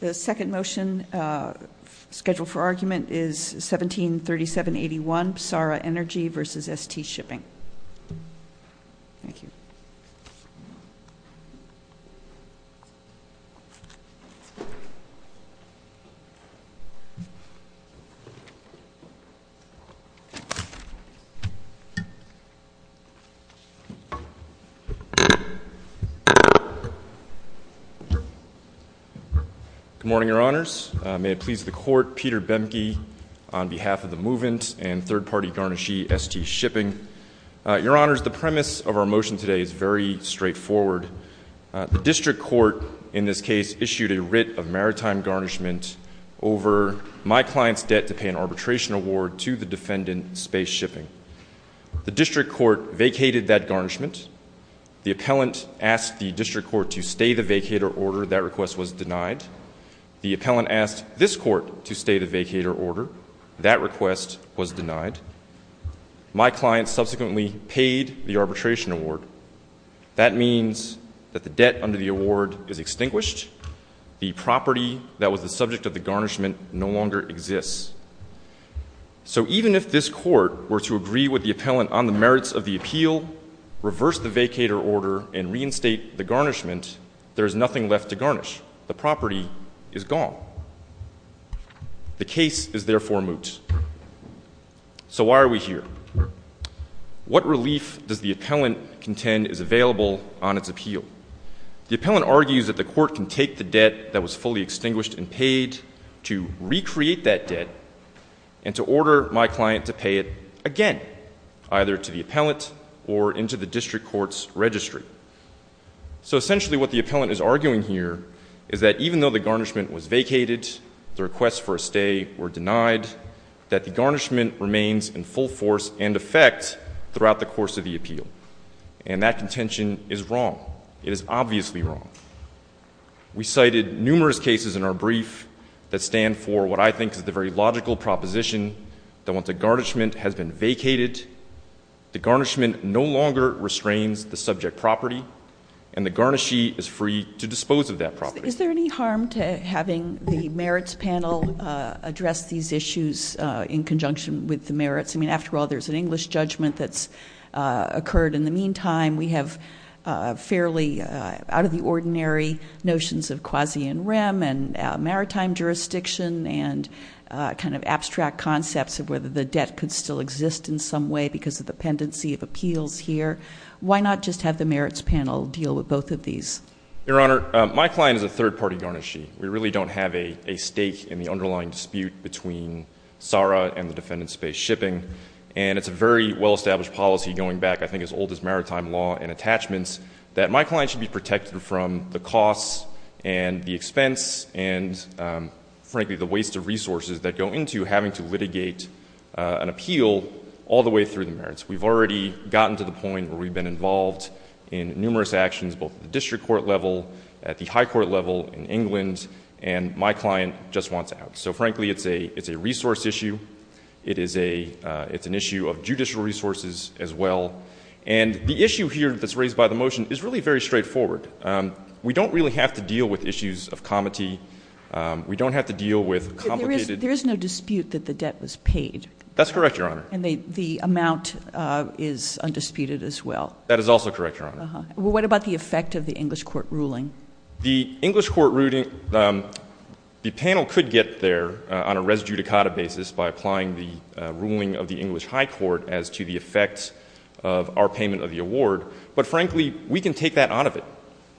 The second motion scheduled for argument is 1737-81, PSARA Energy v. ST Shipping. Thank you. Good morning, your honors. May it please the court, Peter Bemke on behalf of the movement and third-party garnishee, ST Shipping. Your honors, the premise of our motion today is very straightforward. The district court, in this case, issued a writ of maritime garnishment over my client's debt to pay an arbitration award to the defendant, Space Shipping. The district court vacated that garnishment. The appellant asked the district court to stay the vacated order. That request was denied. The appellant asked this court to stay the vacated order. That request was denied. My client subsequently paid the arbitration award. That means that the debt under the award is extinguished. The property that was the subject of the garnishment no longer exists. So even if this court were to agree with the appellant on the merits of the appeal, reverse the vacated order, and reinstate the garnishment, there's nothing left to garnish. The property is gone. The case is therefore moot. So why are we here? What relief does the appellant contend is available on its appeal? The appellant argues that the court can take the debt that was fully extinguished and paid to recreate that debt and to order my client to pay it again, either to the appellant or into the district court's registry. So essentially what the appellant is arguing here is that even though the garnishment was vacated, the request for a stay were denied, that the garnishment remains in full force and effect throughout the course of the appeal. And that contention is wrong. It is obviously wrong. We cited numerous cases in our brief that stand for what I think is the very logical proposition that once a garnishment has been vacated, the garnishment no longer restrains the subject property, and the garnishee is free to dispose of that property. Is there any harm to having the merits panel address these issues in conjunction with the merits? I mean, after all, there's an English judgment that's occurred in the meantime. We have fairly out of the ordinary notions of quasi and rem and in some way because of the pendency of appeals here, why not just have the merits panel deal with both of these? Your Honor, my client is a third party garnishee. We really don't have a stake in the underlying dispute between SARA and the defendant's space shipping. And it's a very well established policy going back, I think, as old as maritime law and attachments, that my client should be protected from the costs and the expense and frankly the waste of resources that go into having to litigate an appeal all the way through the merits. We've already gotten to the point where we've been involved in numerous actions, both at the district court level, at the high court level in England, and my client just wants out. So frankly, it's a resource issue. It's an issue of judicial resources as well. And the issue here that's raised by the motion is really very straightforward. We don't really have to deal with issues of comity. We don't have to deal with complicated- There is no dispute that the debt was paid. That's correct, Your Honor. And the amount is undisputed as well. That is also correct, Your Honor. What about the effect of the English court ruling? The English court ruling, the panel could get there on a res judicata basis by applying the ruling of the English high court as to the effects of our payment of the award. But frankly, we can take that out of it.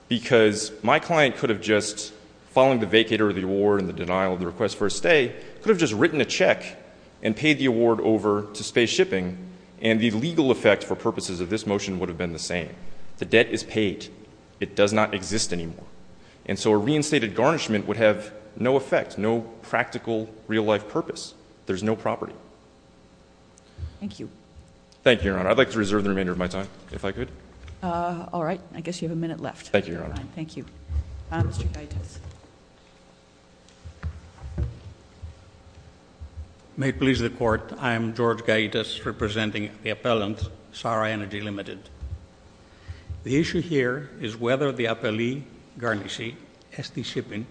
Because my client could have just, following the vacator of the award and the denial of the request for a stay, could have just written a check and paid the award over to space shipping, and the legal effect for purposes of this motion would have been the same. The debt is paid. It does not exist anymore. And so a reinstated garnishment would have no effect, no practical real life purpose. There's no property. Thank you. Thank you, Your Honor. I'd like to reserve the remainder of my time, if I could. All right, I guess you have a minute left. Thank you, Your Honor. Thank you. Mr. Gaitas. May it please the court, I am George Gaitas, representing the appellant, SARA Energy Limited. The issue here is whether the appellee garnishee, ST Shippen,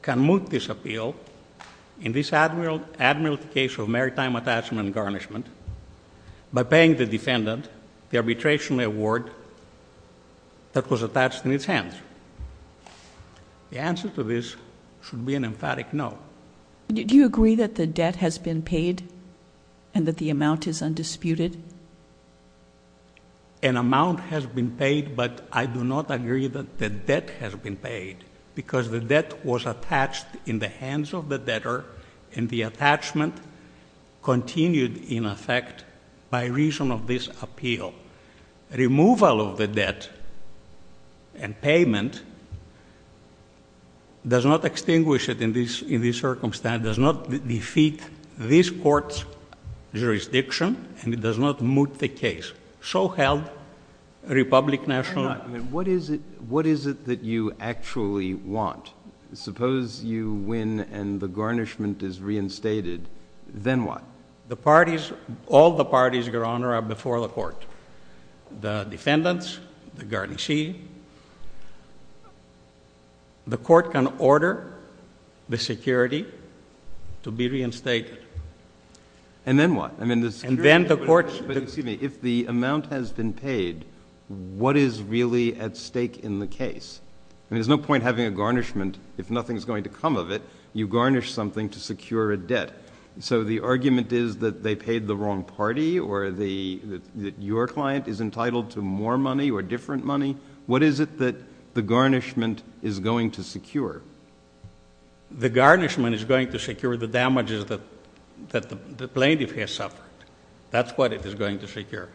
can move this appeal in this admiral case of maritime attachment and garnishment by paying the defendant the arbitration award that was attached in its hands. The answer to this should be an emphatic no. Did you agree that the debt has been paid and that the amount is undisputed? An amount has been paid, but I do not agree that the debt has been paid, because the debt was attached in the hands of the debtor, and the attachment continued in effect by reason of this appeal. Removal of the debt and payment does not extinguish it in this circumstance, does not defeat this court's jurisdiction, and it does not moot the case. So held, Republic National. What is it that you actually want? Suppose you win and the garnishment is reinstated, then what? The parties, all the parties, Your Honor, are before the court. The defendants, the garnishee. The court can order the security to be reinstated. And then what? I mean, the security- And then the court- But excuse me, if the amount has been paid, what is really at stake in the case? I mean, there's no point having a garnishment if nothing's going to come of it. You garnish something to secure a debt. So the argument is that they paid the wrong party, or that your client is entitled to more money or different money. What is it that the garnishment is going to secure? The garnishment is going to secure the damages that the plaintiff has suffered. That's what it is going to secure.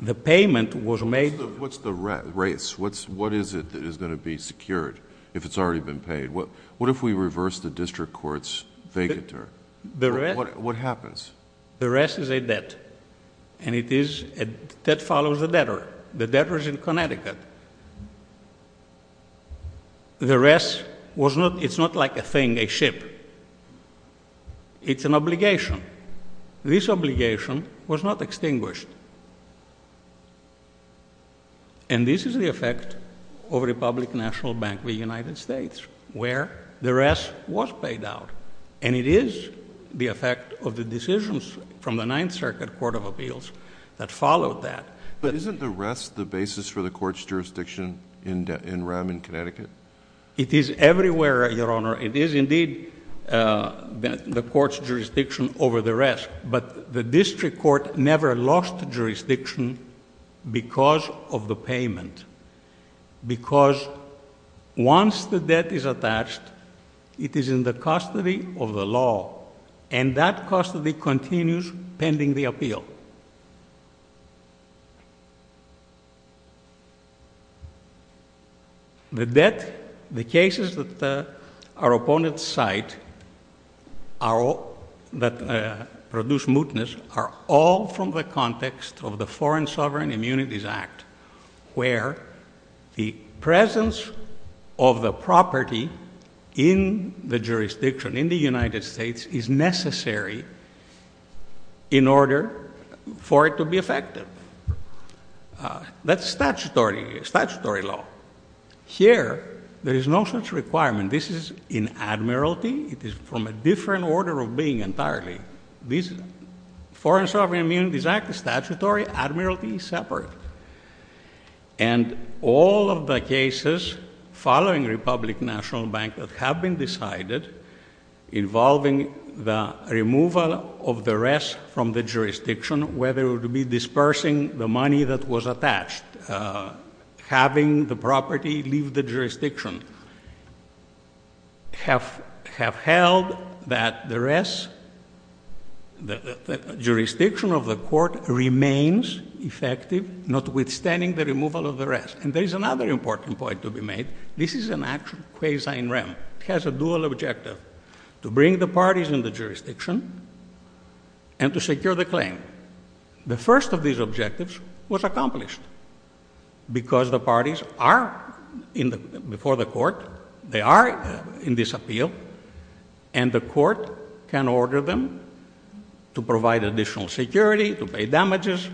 The payment was made- What's the rates? What is it that is going to be secured if it's already been paid? What if we reverse the district court's vacatur? What happens? The rest is a debt, and it is a debt that follows a debtor. The debtor's in Connecticut. The rest, it's not like a thing, a ship. It's an obligation. This obligation was not extinguished. And this is the effect of Republic National Bank of the United States. The rest was paid out, and it is the effect of the decisions from the Ninth Circuit Court of Appeals that followed that. But isn't the rest the basis for the court's jurisdiction in Rem in Connecticut? It is everywhere, Your Honor. It is indeed the court's jurisdiction over the rest. But the district court never lost jurisdiction because of the payment. Because once the debt is attached, it is in the custody of the law, and that custody continues pending the appeal. The debt, the cases that our opponents cite that produce mootness are all from the context of the Foreign Sovereign Immunities Act, where the presence of the property in the jurisdiction, in the United States, is necessary in order for it to be effective. That's statutory law. Here, there is no such requirement. This is in admiralty. It is from a different order of being entirely. This Foreign Sovereign Immunities Act is statutory, admiralty is separate. And all of the cases following Republic National Bank that have been decided involving the removal of the rest from the jurisdiction, whether it would be dispersing the money that was attached, having the property leave the jurisdiction, have held that the rest, that the jurisdiction of the court remains effective, notwithstanding the removal of the rest. And there is another important point to be made. This is an actual quasi-in rem. It has a dual objective, to bring the parties in the jurisdiction and to secure the claim. The first of these objectives was accomplished, because the parties are, before the court, they are in disappeal, and the court can order them to provide additional security, to pay damages.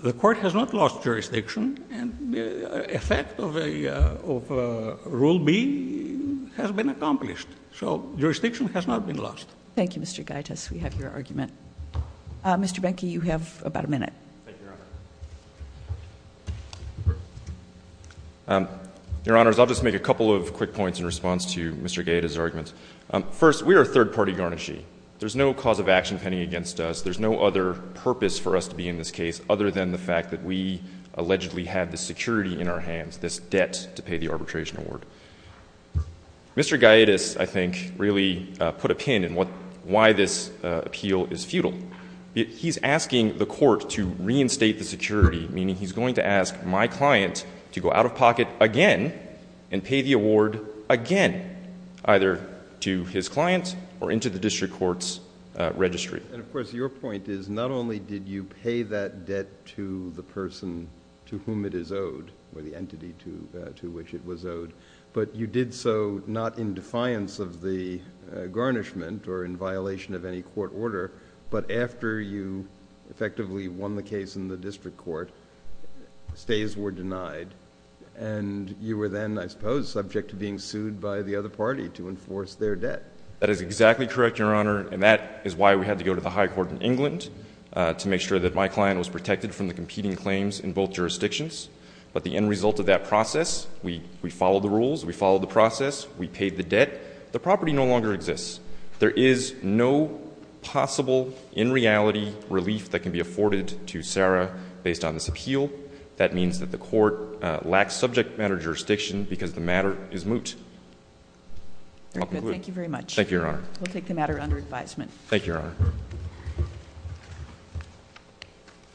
The court has not lost jurisdiction, and effect of Rule B has been accomplished. So, jurisdiction has not been lost. Thank you, Mr. Gaitas. We have your argument. Mr. Behnke, you have about a minute. Thank you, Your Honor. Your Honors, I'll just make a couple of quick points in response to Mr. Gaitas' argument. First, we are a third-party garnishee. There's no cause of action pending against us. There's no other purpose for us to be in this case, other than the fact that we allegedly have the security in our hands, this debt to pay the arbitration award. Mr. Gaitas, I think, really put a pin in why this appeal is futile. He's asking the court to reinstate the security, meaning he's going to ask my client to go out of pocket again, and pay the award again, either to his client or into the district court's registry. And, of course, your point is not only did you pay that debt to the person to whom it is owed, or the entity to which it was owed, but you did so not in defiance of the garnishment or in violation of any court order, but after you effectively won the case in the district court, stays were denied, and you were then, I suppose, subject to being sued by the other party to enforce their debt. That is exactly correct, Your Honor, and that is why we had to go to the high court in England to make sure that my client was protected from the competing claims in both jurisdictions. But the end result of that process, we followed the rules, we followed the process, we paid the debt. The property no longer exists. There is no possible, in reality, relief that can be afforded to Sarah based on this appeal. That means that the court lacks subject matter jurisdiction because the matter is moot. Very good. Thank you very much. Thank you, Your Honor. We'll take the matter under advisement. Thank you, Your Honor.